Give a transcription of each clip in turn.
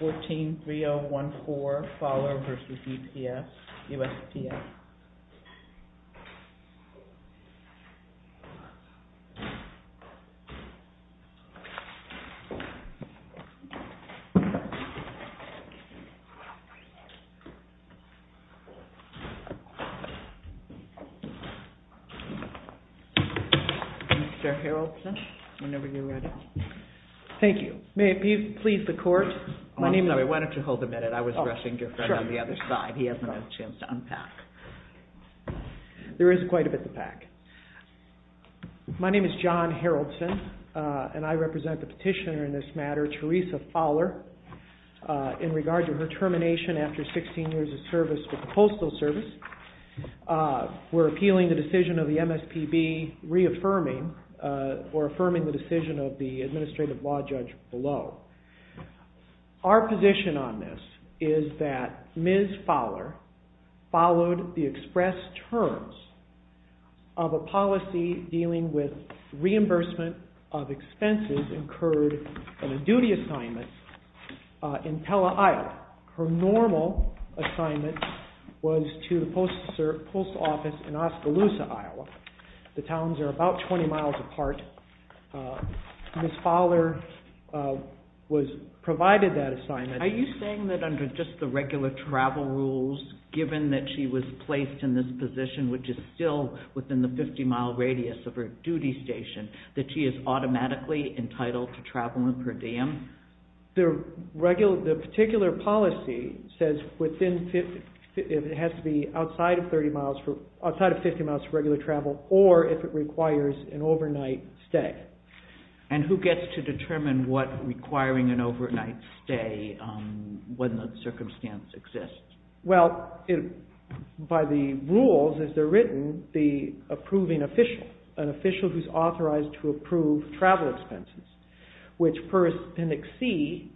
14-3014 Fowler v. USPS Mr. Harrelson, whenever you're ready. Thank you. May it please the court? Why don't you hold a minute? I was rushing your friend on the other side. He hasn't had a chance to unpack. There is quite a bit to pack. My name is John Harrelson, and I represent the petitioner in this matter, Teresa Fowler, in regard to her termination after 16 years of service with the Postal Service. We're appealing the decision of the MSPB reaffirming or affirming the decision of the administrative law judge below. Our position on this is that Ms. Fowler followed the express terms of a policy dealing with reimbursement of expenses incurred in a duty assignment in Telle Isle. Her normal assignment was to the post office in Oskaloosa, Iowa. The towns are about 20 miles apart. Ms. Fowler provided that assignment. Are you saying that under just the regular travel rules, given that she was placed in this position, which is still within the 50-mile radius of her duty station, that she is automatically entitled to travel with her dam? The particular policy says it has to be outside of 50 miles for regular travel, or if it requires an overnight stay. And who gets to determine what requiring an overnight stay, when the circumstance exists? Well, by the rules, as they're written, the approving official, an official who's authorized to approve travel expenses, which per Appendix C,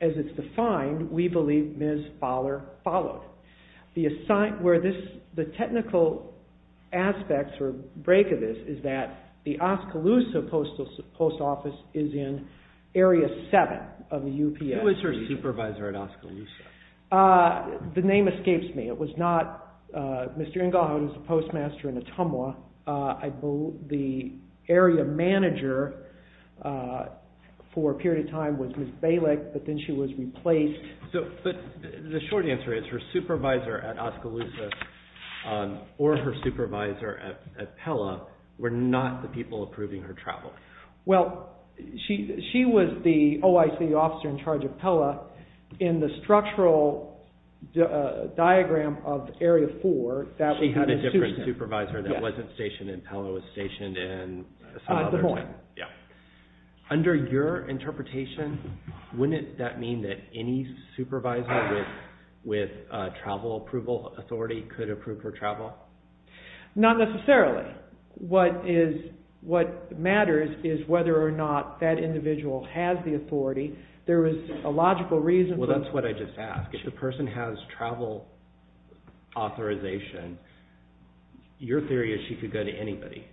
as it's defined, we believe Ms. Fowler followed. The technical aspect or break of this is that the Oskaloosa Post Office is in Area 7 of the UPS. Who was her supervisor at Oskaloosa? The name escapes me. It was not Mr. Ingleheart, who's the postmaster in Ottumwa. The area manager for a period of time was Ms. Bailick, but then she was replaced. But the short answer is her supervisor at Oskaloosa or her supervisor at Pella were not the people approving her travel. Well, she was the OIC officer in charge of Pella in the structural diagram of Area 4. She had a different supervisor that wasn't stationed in Pella, was stationed in some other time. Under your interpretation, wouldn't that mean that any supervisor with travel approval authority could approve her travel? Not necessarily. What matters is whether or not that individual has the authority. There is a logical reason for... Well, that's what I just asked. If the person has travel authorization, your theory is she could go to anybody.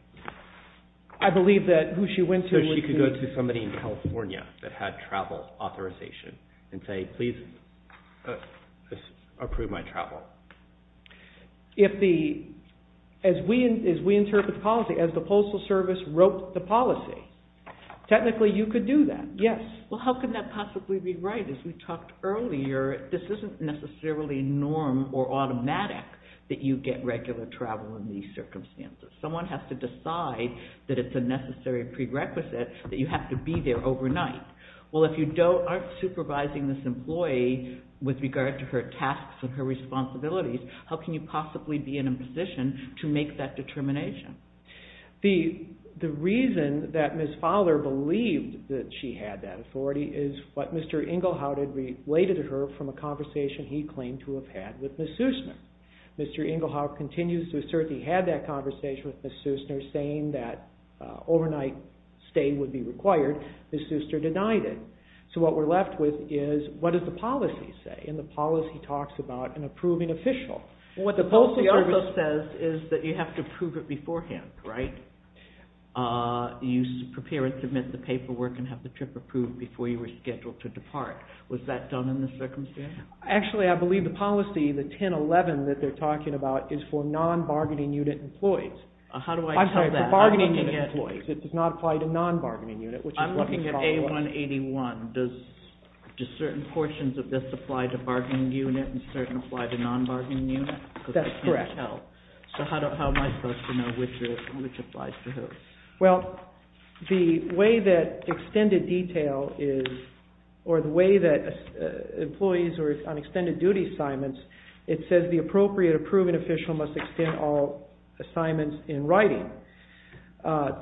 I believe that who she went to was... So she could go to somebody in California that had travel authorization and say, please approve my travel. As we interpret policy, as the Postal Service wrote the policy, technically you could do that. Yes. Well, how can that possibly be right? As we talked earlier, this isn't necessarily norm or automatic that you get regular travel in these circumstances. Someone has to decide that it's a necessary prerequisite that you have to be there overnight. Well, if you aren't supervising this employee with regard to her tasks and her responsibilities, how can you possibly be in a position to make that determination? The reason that Ms. Fowler believed that she had that authority is what Mr. Engelhardt had related to her from a conversation he claimed to have had with Ms. Sussner. When they were saying that overnight stay would be required, Ms. Sussner denied it. So what we're left with is, what does the policy say? And the policy talks about an approving official. What the Postal Service says is that you have to approve it beforehand, right? You prepare and submit the paperwork and have the trip approved before you were scheduled to depart. Was that done in this circumstance? Actually, I believe the policy, the 1011 that they're talking about, is for non-bargaining unit employees. How do I tell that? I'm sorry, for bargaining unit employees. It does not apply to non-bargaining unit, which is what Ms. Fowler... I'm looking at A181. Does certain portions of this apply to bargaining unit and certain apply to non-bargaining unit? That's correct. Because I can't tell. So how am I supposed to know which applies to who? Well, the way that extended detail is, or the way that employees are on extended duty assignments, it says the appropriate approving official must extend all assignments in writing. And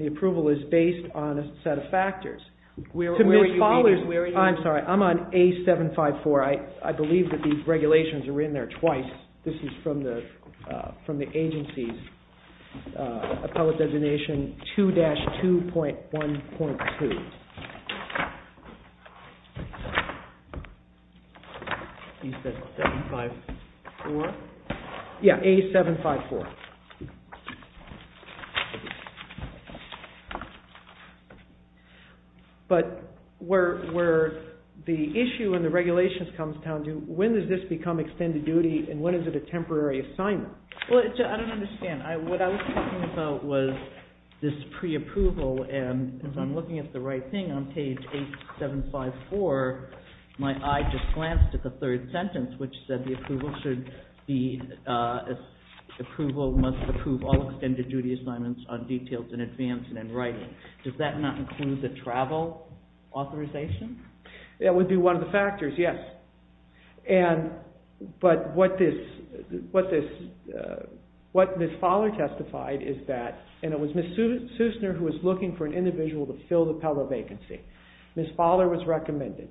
the approval is based on a set of factors. Where are you reading this? I'm sorry, I'm on A754. I believe that these regulations are written there twice. This is from the agency's appellate designation 2-2.1.2. You said 754? Yeah, A754. But where the issue in the regulations comes down to, when does this become extended duty and when is it a temporary assignment? Well, I don't understand. What I was talking about was this pre-approval, and as I'm looking at the right thing on page A754, my eye just glanced at the third sentence, which said the approval should be... ...approve all extended duty assignments on details in advance and in writing. Does that not include the travel authorization? That would be one of the factors, yes. But what Ms. Fowler testified is that, and it was Ms. Sussner who was looking for an individual to fill the Pella vacancy. Ms. Fowler was recommended.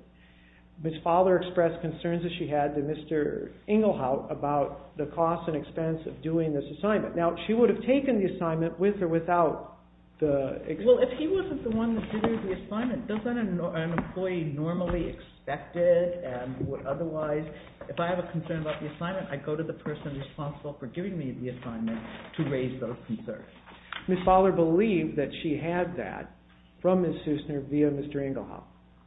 Ms. Fowler expressed concerns that she had to Mr. Engelhout about the cost and expense of doing this assignment. Now, she would have taken the assignment with or without the... Well, if he wasn't the one that did the assignment, doesn't an employee normally expect it and would otherwise... If I have a concern about the assignment, I go to the person responsible for giving me the assignment to raise those concerns. Ms. Fowler believed that she had that from Ms. Sussner via Mr. Engelhout.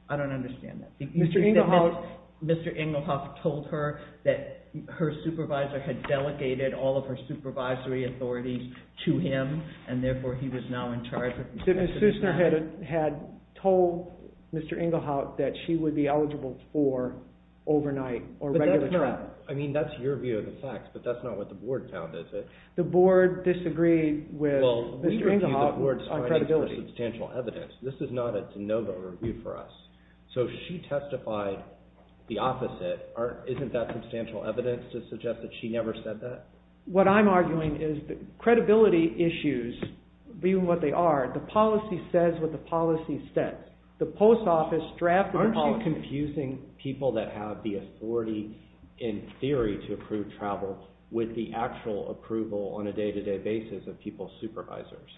I don't understand that. Mr. Engelhout told her that her supervisor had delegated all of her supervisory authorities to him and therefore he was now in charge of... Ms. Sussner had told Mr. Engelhout that she would be eligible for overnight or regular travel. I mean, that's your view of the facts, but that's not what the board found, is it? The board disagreed with Mr. Engelhout on credibility. This is not a de novo review for us. So she testified the opposite. Isn't that substantial evidence to suggest that she never said that? What I'm arguing is that credibility issues, being what they are, the policy says what the policy says. The post office drafted the policy... Aren't you confusing people that have the authority in theory to approve travel with the actual approval on a day-to-day basis of people's supervisors?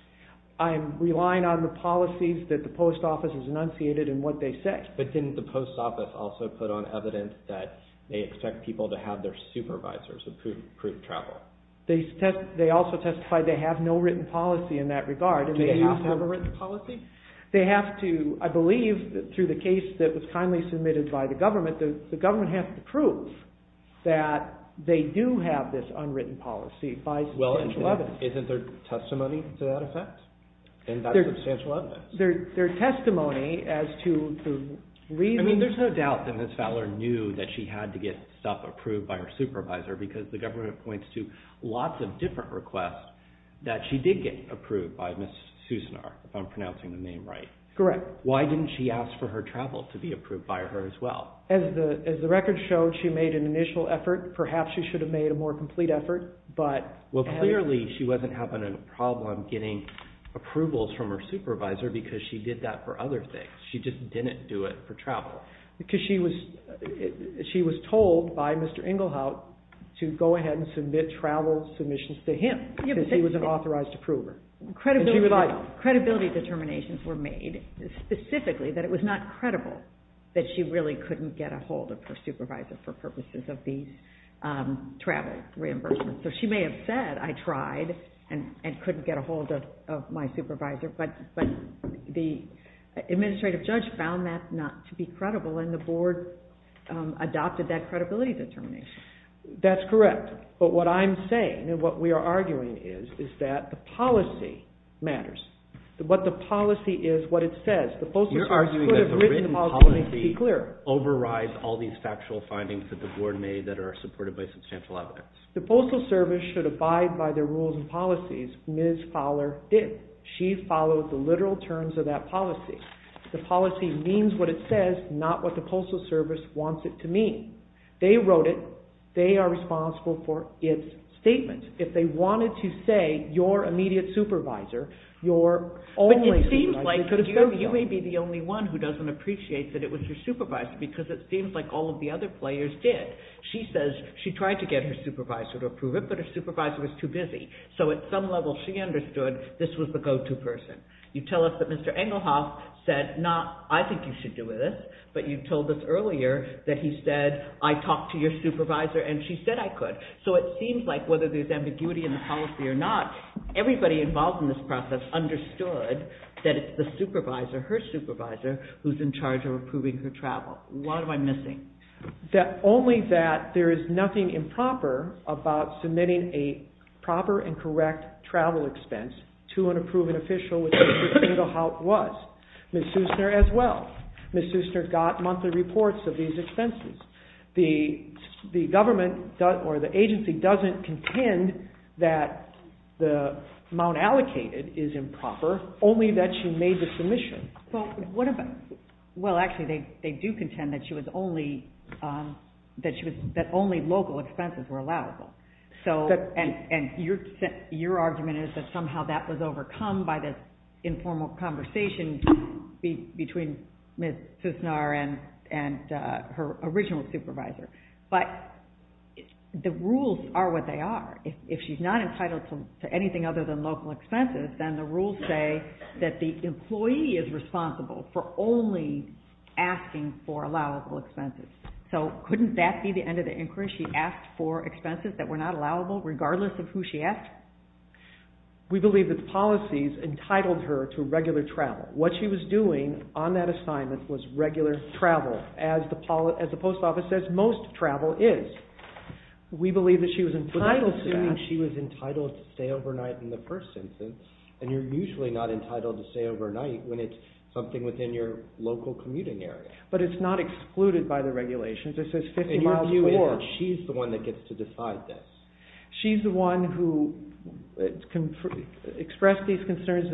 I'm relying on the policies that the post office has enunciated and what they say. But didn't the post office also put on evidence that they expect people to have their supervisors approve travel? They also testified they have no written policy in that regard. Do they have to have a written policy? They have to, I believe, through the case that was kindly submitted by the government, the government has to prove that they do have this unwritten policy by substantial evidence. Isn't there testimony to that effect? There's testimony as to the reasons... I mean, there's no doubt that Ms. Fowler knew that she had to get stuff approved by her supervisor because the government points to lots of different requests that she did get approved by Ms. Susanar, if I'm pronouncing the name right. Correct. Why didn't she ask for her travel to be approved by her as well? As the record showed, she made an initial effort. Perhaps she should have made a more complete effort, but... Well, clearly she wasn't having a problem getting approvals from her supervisor because she did that for other things. She just didn't do it for travel. Because she was told by Mr. Engelhout to go ahead and submit travel submissions to him because he was an authorized approver. Credibility determinations were made specifically that it was not credible that she really couldn't get a hold of her supervisor for purposes of these travel reimbursements. So she may have said, I tried and couldn't get a hold of my supervisor, but the administrative judge found that not to be credible and the board adopted that credibility determination. That's correct. But what I'm saying and what we are arguing is that the policy matters. What the policy is, what it says... You're arguing that the written policy overrides all these factual findings that the board made that are supported by substantial evidence. The Postal Service should abide by their rules and policies. Ms. Fowler did. She followed the literal terms of that policy. The policy means what it says, not what the Postal Service wants it to mean. They wrote it. They are responsible for its statement. If they wanted to say your immediate supervisor, your only supervisor... But it seems like you may be the only one who doesn't appreciate that it was your supervisor because it seems like all of the other players did. She says she tried to get her supervisor to approve it, but her supervisor was too busy. So at some level she understood this was the go-to person. You tell us that Mr. Engelhoff said not I think you should do this, but you told us earlier that he said I talked to your supervisor and she said I could. So it seems like whether there's ambiguity in the policy or not, everybody involved in this process understood that it's the supervisor, her supervisor, who's in charge of approving her travel. What am I missing? Only that there is nothing improper about submitting a proper and correct travel expense to an approved official, which Mr. Engelhoff was. Ms. Sussner as well. Ms. Sussner got monthly reports of these expenses. The government or the agency doesn't contend that the amount allocated is improper, only that she made the submission. Well, actually they do contend that only local expenses were allowable. And your argument is that somehow that was overcome by this informal conversation between Ms. Sussner and her original supervisor. But the rules are what they are. If she's not entitled to anything other than local expenses, then the rules say that the employee is responsible for only asking for allowable expenses. So couldn't that be the end of the inquiry? She asked for expenses that were not allowable regardless of who she asked? We believe that the policies entitled her to regular travel. What she was doing on that assignment was regular travel, as the post office says most travel is. We believe that she was entitled to that. But I'm assuming she was entitled to stay overnight in the first instance. And you're usually not entitled to stay overnight when it's something within your local commuting area. But it's not excluded by the regulations. It says 50 miles or more. She's the one that gets to decide this. She's the one who expressed these concerns,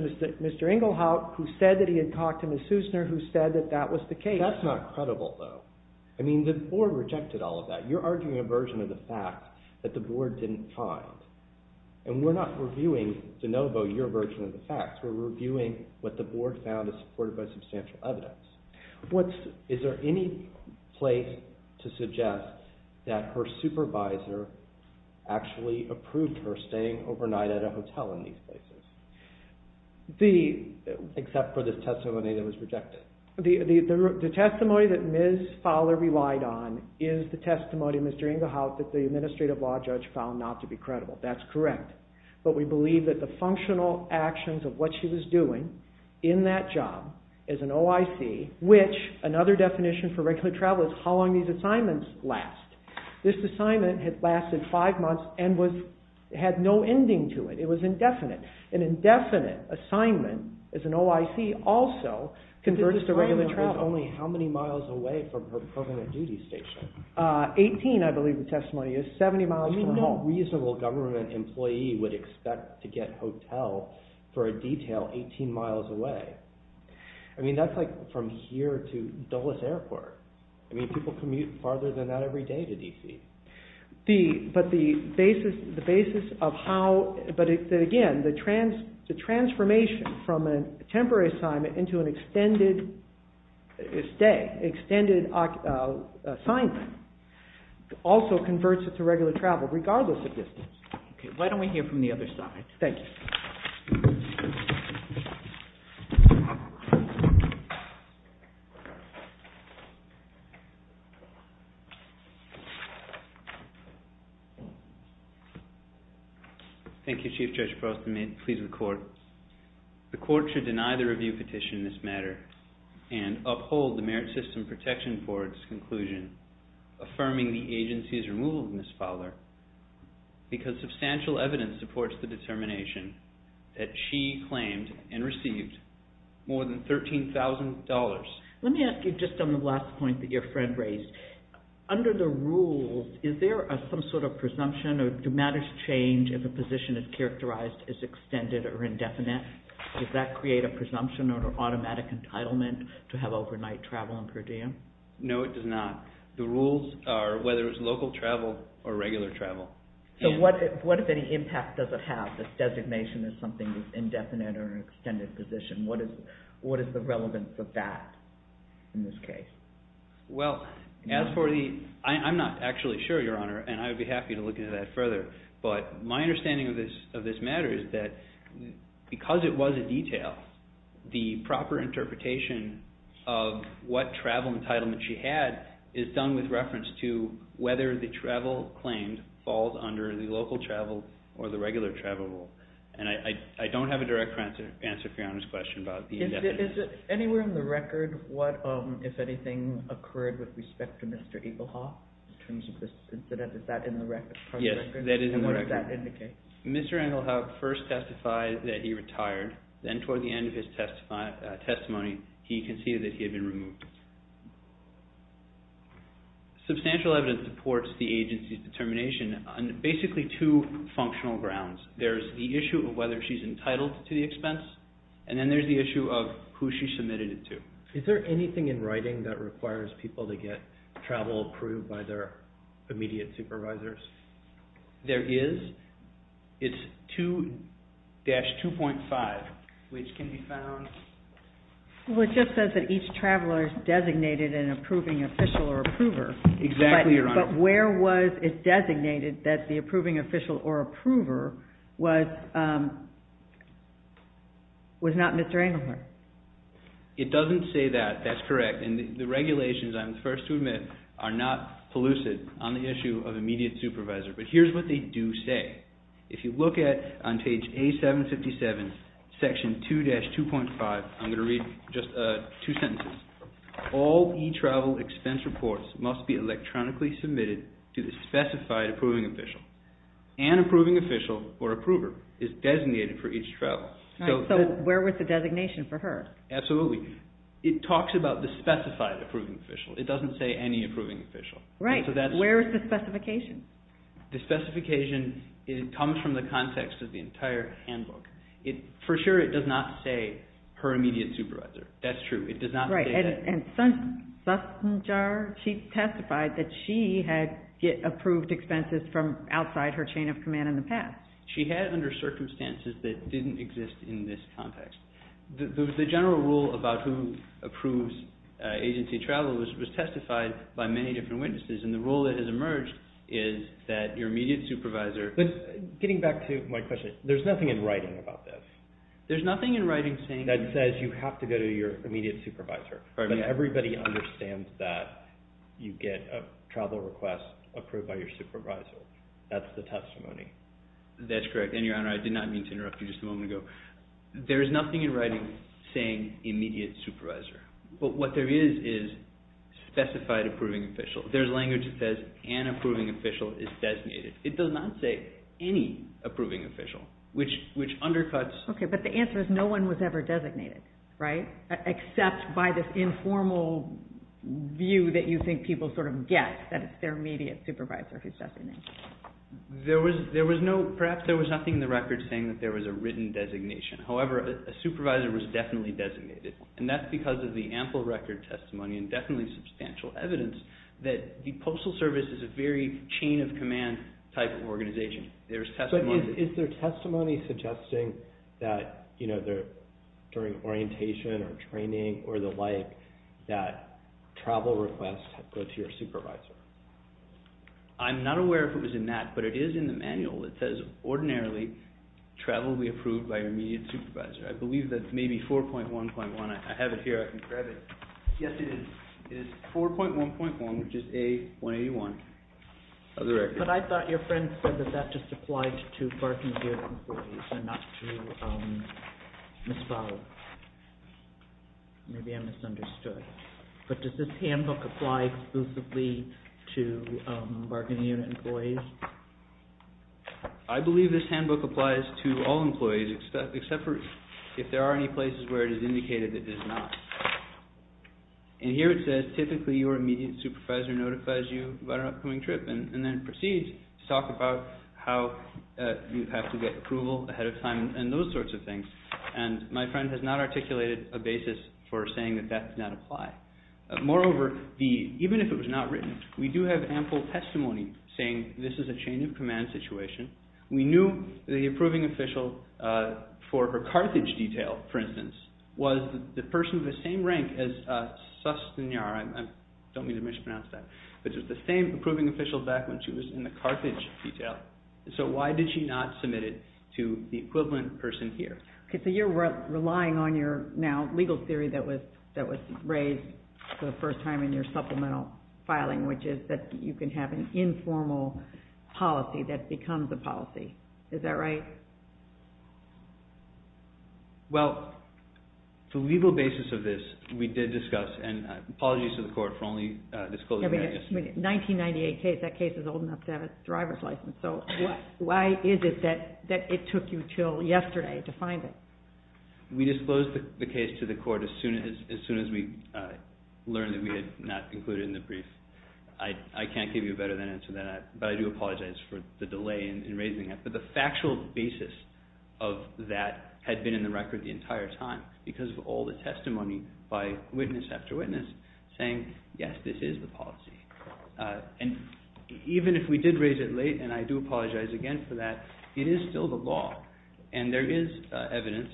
Mr. Engelhoff, who said that he had talked to Ms. Sussner, who said that that was the case. That's not credible, though. I mean, the board rejected all of that. You're arguing a version of the facts that the board didn't find. And we're not reviewing, DeNovo, your version of the facts. We're reviewing what the board found is supported by substantial evidence. Is there any place to suggest that her supervisor actually approved her staying overnight at a hotel in these places? Except for this testimony that was rejected. The testimony that Ms. Fowler relied on is the testimony, Mr. Engelhoff, that the administrative law judge found not to be credible. That's correct. But we believe that the functional actions of what she was doing in that job as an OIC, which another definition for regular travel is how long these assignments last. This assignment had lasted five months and had no ending to it. It was indefinite. An indefinite assignment as an OIC also converts to regular travel. The assignment was only how many miles away from her permanent duty station? Eighteen, I believe the testimony is. Seventy miles from home. I mean, no reasonable government employee would expect to get hotel for a detail 18 miles away. I mean, that's like from here to Dulles Airport. I mean, people commute farther than that every day to D.C. But the basis of how, but again, the transformation from a temporary assignment into an extended assignment also converts it to regular travel regardless of distance. Why don't we hear from the other side? Thank you. Thank you, Chief Judge Frost. May it please the Court. The Court should deny the review petition in this matter and uphold the Merit System Protection Board's conclusion affirming the agency's removal of Ms. Fowler because substantial evidence supports the determination that she claimed and received more than $13,000. Let me ask you just on the last point that your friend raised. Under the rules, is there some sort of presumption or do matters change if a position is characterized as extended or indefinite? Does that create a presumption or an automatic entitlement to have overnight travel on per diem? No, it does not. The rules are whether it's local travel or regular travel. So what, if any, impact does it have that designation as something that's indefinite or an extended position? What is the relevance of that in this case? Well, I'm not actually sure, Your Honor, and I would be happy to look into that further. But my understanding of this matter is that because it was a detail, the proper interpretation of what travel entitlement she had is done with reference to whether the travel claimed falls under the local travel or the regular travel rule. And I don't have a direct answer to Your Honor's question about the indefinite. Is it anywhere in the record what, if anything, occurred with respect to Mr. Eaglehawk in terms of this incident? Is that in the record? Yes, that is in the record. And what does that indicate? Mr. Eaglehawk first testified that he retired. Then toward the end of his testimony, he conceded that he had been removed. Substantial evidence supports the agency's determination on basically two functional grounds. There's the issue of whether she's entitled to the expense, and then there's the issue of who she submitted it to. Is there anything in writing that requires people to get travel approved by their immediate supervisors? There is. It's 2-2.5, which can be found... Well, it just says that each traveler is designated an approving official or approver. Exactly, Your Honor. But where was it designated that the approving official or approver was not Mr. Eaglehawk? It doesn't say that. That's correct. And the regulations, I'm the first to admit, are not elusive on the issue of immediate supervisor. But here's what they do say. If you look at, on page A-757, section 2-2.5, I'm going to read just two sentences. All e-travel expense reports must be electronically submitted to the specified approving official. An approving official or approver is designated for each travel. So where was the designation for her? Absolutely. It talks about the specified approving official. It doesn't say any approving official. Where is the specification? The specification comes from the context of the entire handbook. For sure, it does not say her immediate supervisor. That's true. It does not say that. Right. And Sassenger, she testified that she had approved expenses from outside her chain of command in the past. She had under circumstances that didn't exist in this context. The general rule about who approves agency travel was testified by many different witnesses. And the rule that has emerged is that your immediate supervisor – But getting back to my question, there's nothing in writing about this. There's nothing in writing saying – That says you have to go to your immediate supervisor. But everybody understands that you get a travel request approved by your supervisor. That's the testimony. That's correct. And, Your Honor, I did not mean to interrupt you just a moment ago. There is nothing in writing saying immediate supervisor. But what there is is specified approving official. There's language that says an approving official is designated. It does not say any approving official, which undercuts – Okay, but the answer is no one was ever designated, right? Except by this informal view that you think people sort of get that it's their immediate supervisor who's designated. There was no – perhaps there was nothing in the record saying that there was a written designation. However, a supervisor was definitely designated, and that's because of the ample record testimony and definitely substantial evidence that the Postal Service is a very chain-of-command type of organization. But is there testimony suggesting that during orientation or training or the like that travel requests go to your supervisor? I'm not aware if it was in that, but it is in the manual. It says ordinarily travel will be approved by your immediate supervisor. I believe that's maybe 4.1.1. I have it here. I can grab it. Yes, it is. It is 4.1.1, which is A181 of the record. But I thought your friend said that that just applied to bargaining unit employees and not to misfile. Maybe I misunderstood. But does this handbook apply exclusively to bargaining unit employees? I believe this handbook applies to all employees except for if there are any places where it is indicated that it is not. And here it says typically your immediate supervisor notifies you about an upcoming trip and then proceeds to talk about how you have to get approval ahead of time and those sorts of things. And my friend has not articulated a basis for saying that that does not apply. Moreover, even if it was not written, we do have ample testimony saying this is a chain-of-command situation. We knew the approving official for her Carthage detail, for instance, was the person of the same rank as Susteniar. I don't mean to mispronounce that. But it was the same approving official back when she was in the Carthage detail. So why did she not submit it to the equivalent person here? So you're relying on your now legal theory that was raised for the first time in your supplemental filing, which is that you can have an informal policy that becomes a policy. Is that right? Well, the legal basis of this we did discuss. And apologies to the Court for only disclosing that. 1998 case, that case is old enough to have a driver's license. So why is it that it took you until yesterday to find it? We disclosed the case to the Court as soon as we learned that we had not included it in the brief. I can't give you a better answer than that. But I do apologize for the delay in raising it. But the factual basis of that had been in the record the entire time because of all the testimony by witness after witness saying, yes, this is the policy. And even if we did raise it late, and I do apologize again for that, it is still the law. And there is evidence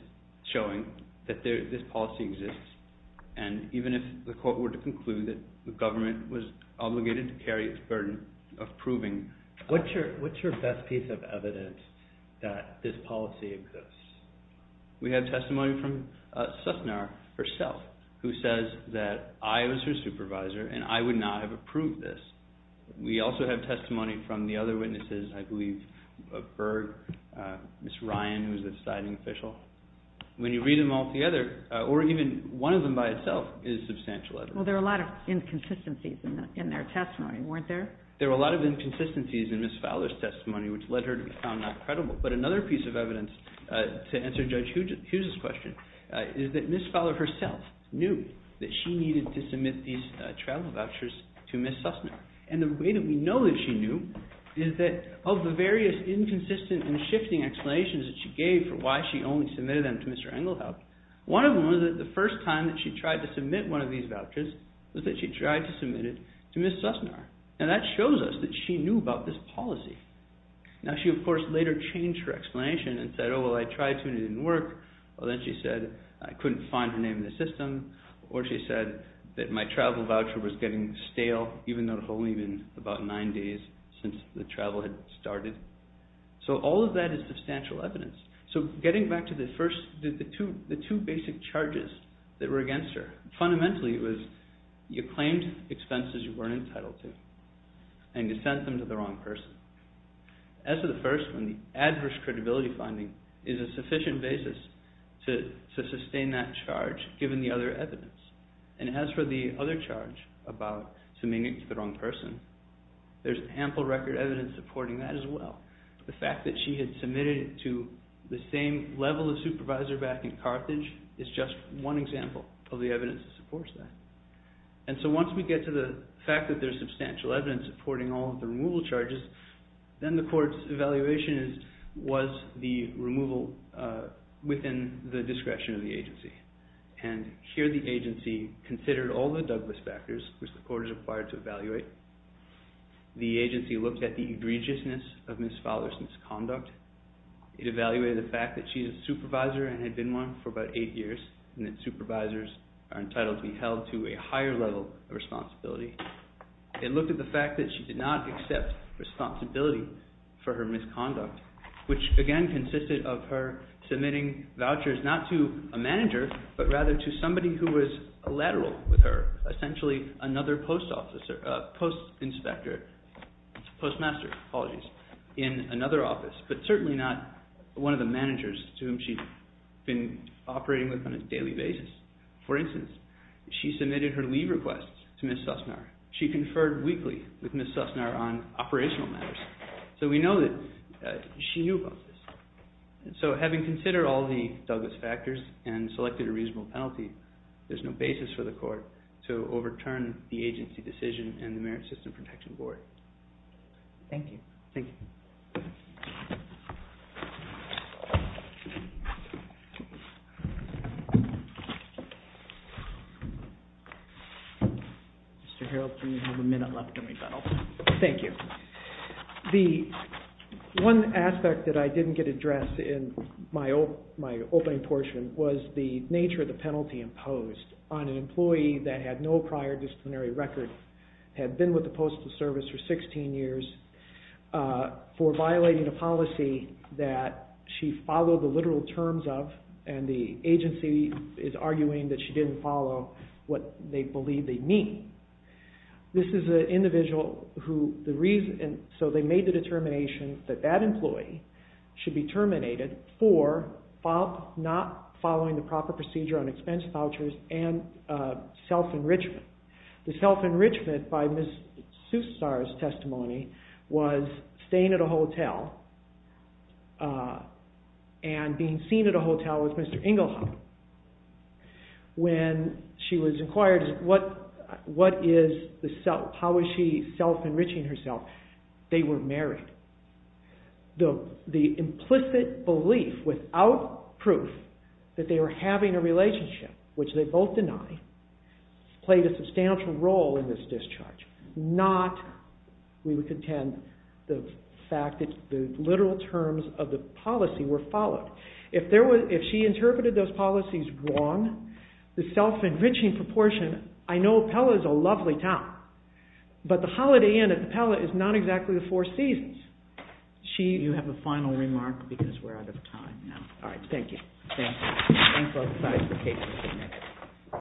showing that this policy exists. And even if the Court were to conclude that the government was obligated to carry its burden of proving it. What's your best piece of evidence that this policy exists? We have testimony from Sussnar herself who says that I was her supervisor and I would not have approved this. We also have testimony from the other witnesses, I believe, Berg, Ms. Ryan, who is the deciding official. When you read them all together, or even one of them by itself is substantial evidence. Well, there were a lot of inconsistencies in their testimony, weren't there? There were a lot of inconsistencies in Ms. Fowler's testimony which led her to be found not credible. But another piece of evidence to answer Judge Hughes' question is that Ms. Fowler herself knew that she needed to submit these travel vouchers to Ms. Sussnar. And the way that we know that she knew is that of the various inconsistent and shifting explanations that she gave for why she only submitted them to Mr. Engelhout, one of them was that the first time that she tried to submit one of these vouchers was that she tried to submit it to Ms. Sussnar. And that shows us that she knew about this policy. Now she, of course, later changed her explanation and said, oh, well, I tried to and it didn't work. Well, then she said, I couldn't find her name in the system. Or she said that my travel voucher was getting stale even though it had only been about nine days since the travel had started. So all of that is substantial evidence. So getting back to the two basic charges that were against her, fundamentally it was you claimed expenses you weren't entitled to and you sent them to the wrong person. As for the first one, the adverse credibility finding is a sufficient basis to sustain that charge given the other evidence. And as for the other charge about submitting it to the wrong person, there's ample record evidence supporting that as well. The fact that she had submitted it to the same level of supervisor back in Carthage is just one example of the evidence that supports that. And so once we get to the fact that there's substantial evidence supporting all of the removal charges, then the court's evaluation was the removal within the discretion of the agency. And here the agency considered all the Douglas factors which the court is required to evaluate. The agency looked at the egregiousness of Ms. Fowler's misconduct. It evaluated the fact that she's a supervisor and had been one for about eight years, and that supervisors are entitled to be held to a higher level of responsibility. It looked at the fact that she did not accept responsibility for her misconduct, which again consisted of her submitting vouchers not to a manager but rather to somebody who was a lateral with her, a post inspector, postmaster, apologies, in another office, but certainly not one of the managers to whom she'd been operating with on a daily basis. For instance, she submitted her leave requests to Ms. Sussnar. She conferred weekly with Ms. Sussnar on operational matters. So we know that she knew about this. So having considered all the Douglas factors and selected a reasonable penalty, there's no basis for the court to overturn the agency decision and the Merit System Protection Board. Thank you. Thank you. Mr. Harreld, you have a minute left in rebuttal. Thank you. The one aspect that I didn't get addressed in my opening portion was the nature of the penalty imposed on an employee that had no prior disciplinary record, had been with the Postal Service for 16 years, for violating a policy that she followed the literal terms of, and the agency is arguing that she didn't follow what they believe they mean. This is an individual who, so they made the determination that that employee should be terminated for not following the proper procedure on expense vouchers and self-enrichment. The self-enrichment by Ms. Sussnar's testimony was staying at a hotel and being seen at a hotel with Mr. Engelhardt. When she was inquired, what is the self, how is she self-enriching herself, they were married. The implicit belief, without proof, that they were having a relationship, which they both deny, played a substantial role in this discharge. Not, we would contend, the fact that the literal terms of the policy were followed. If she interpreted those policies wrong, the self-enriching proportion, I know Pella is a lovely town, but the Holiday Inn at the Pella is not exactly the Four Seasons. You have a final remark because we're out of time now. Alright, thank you.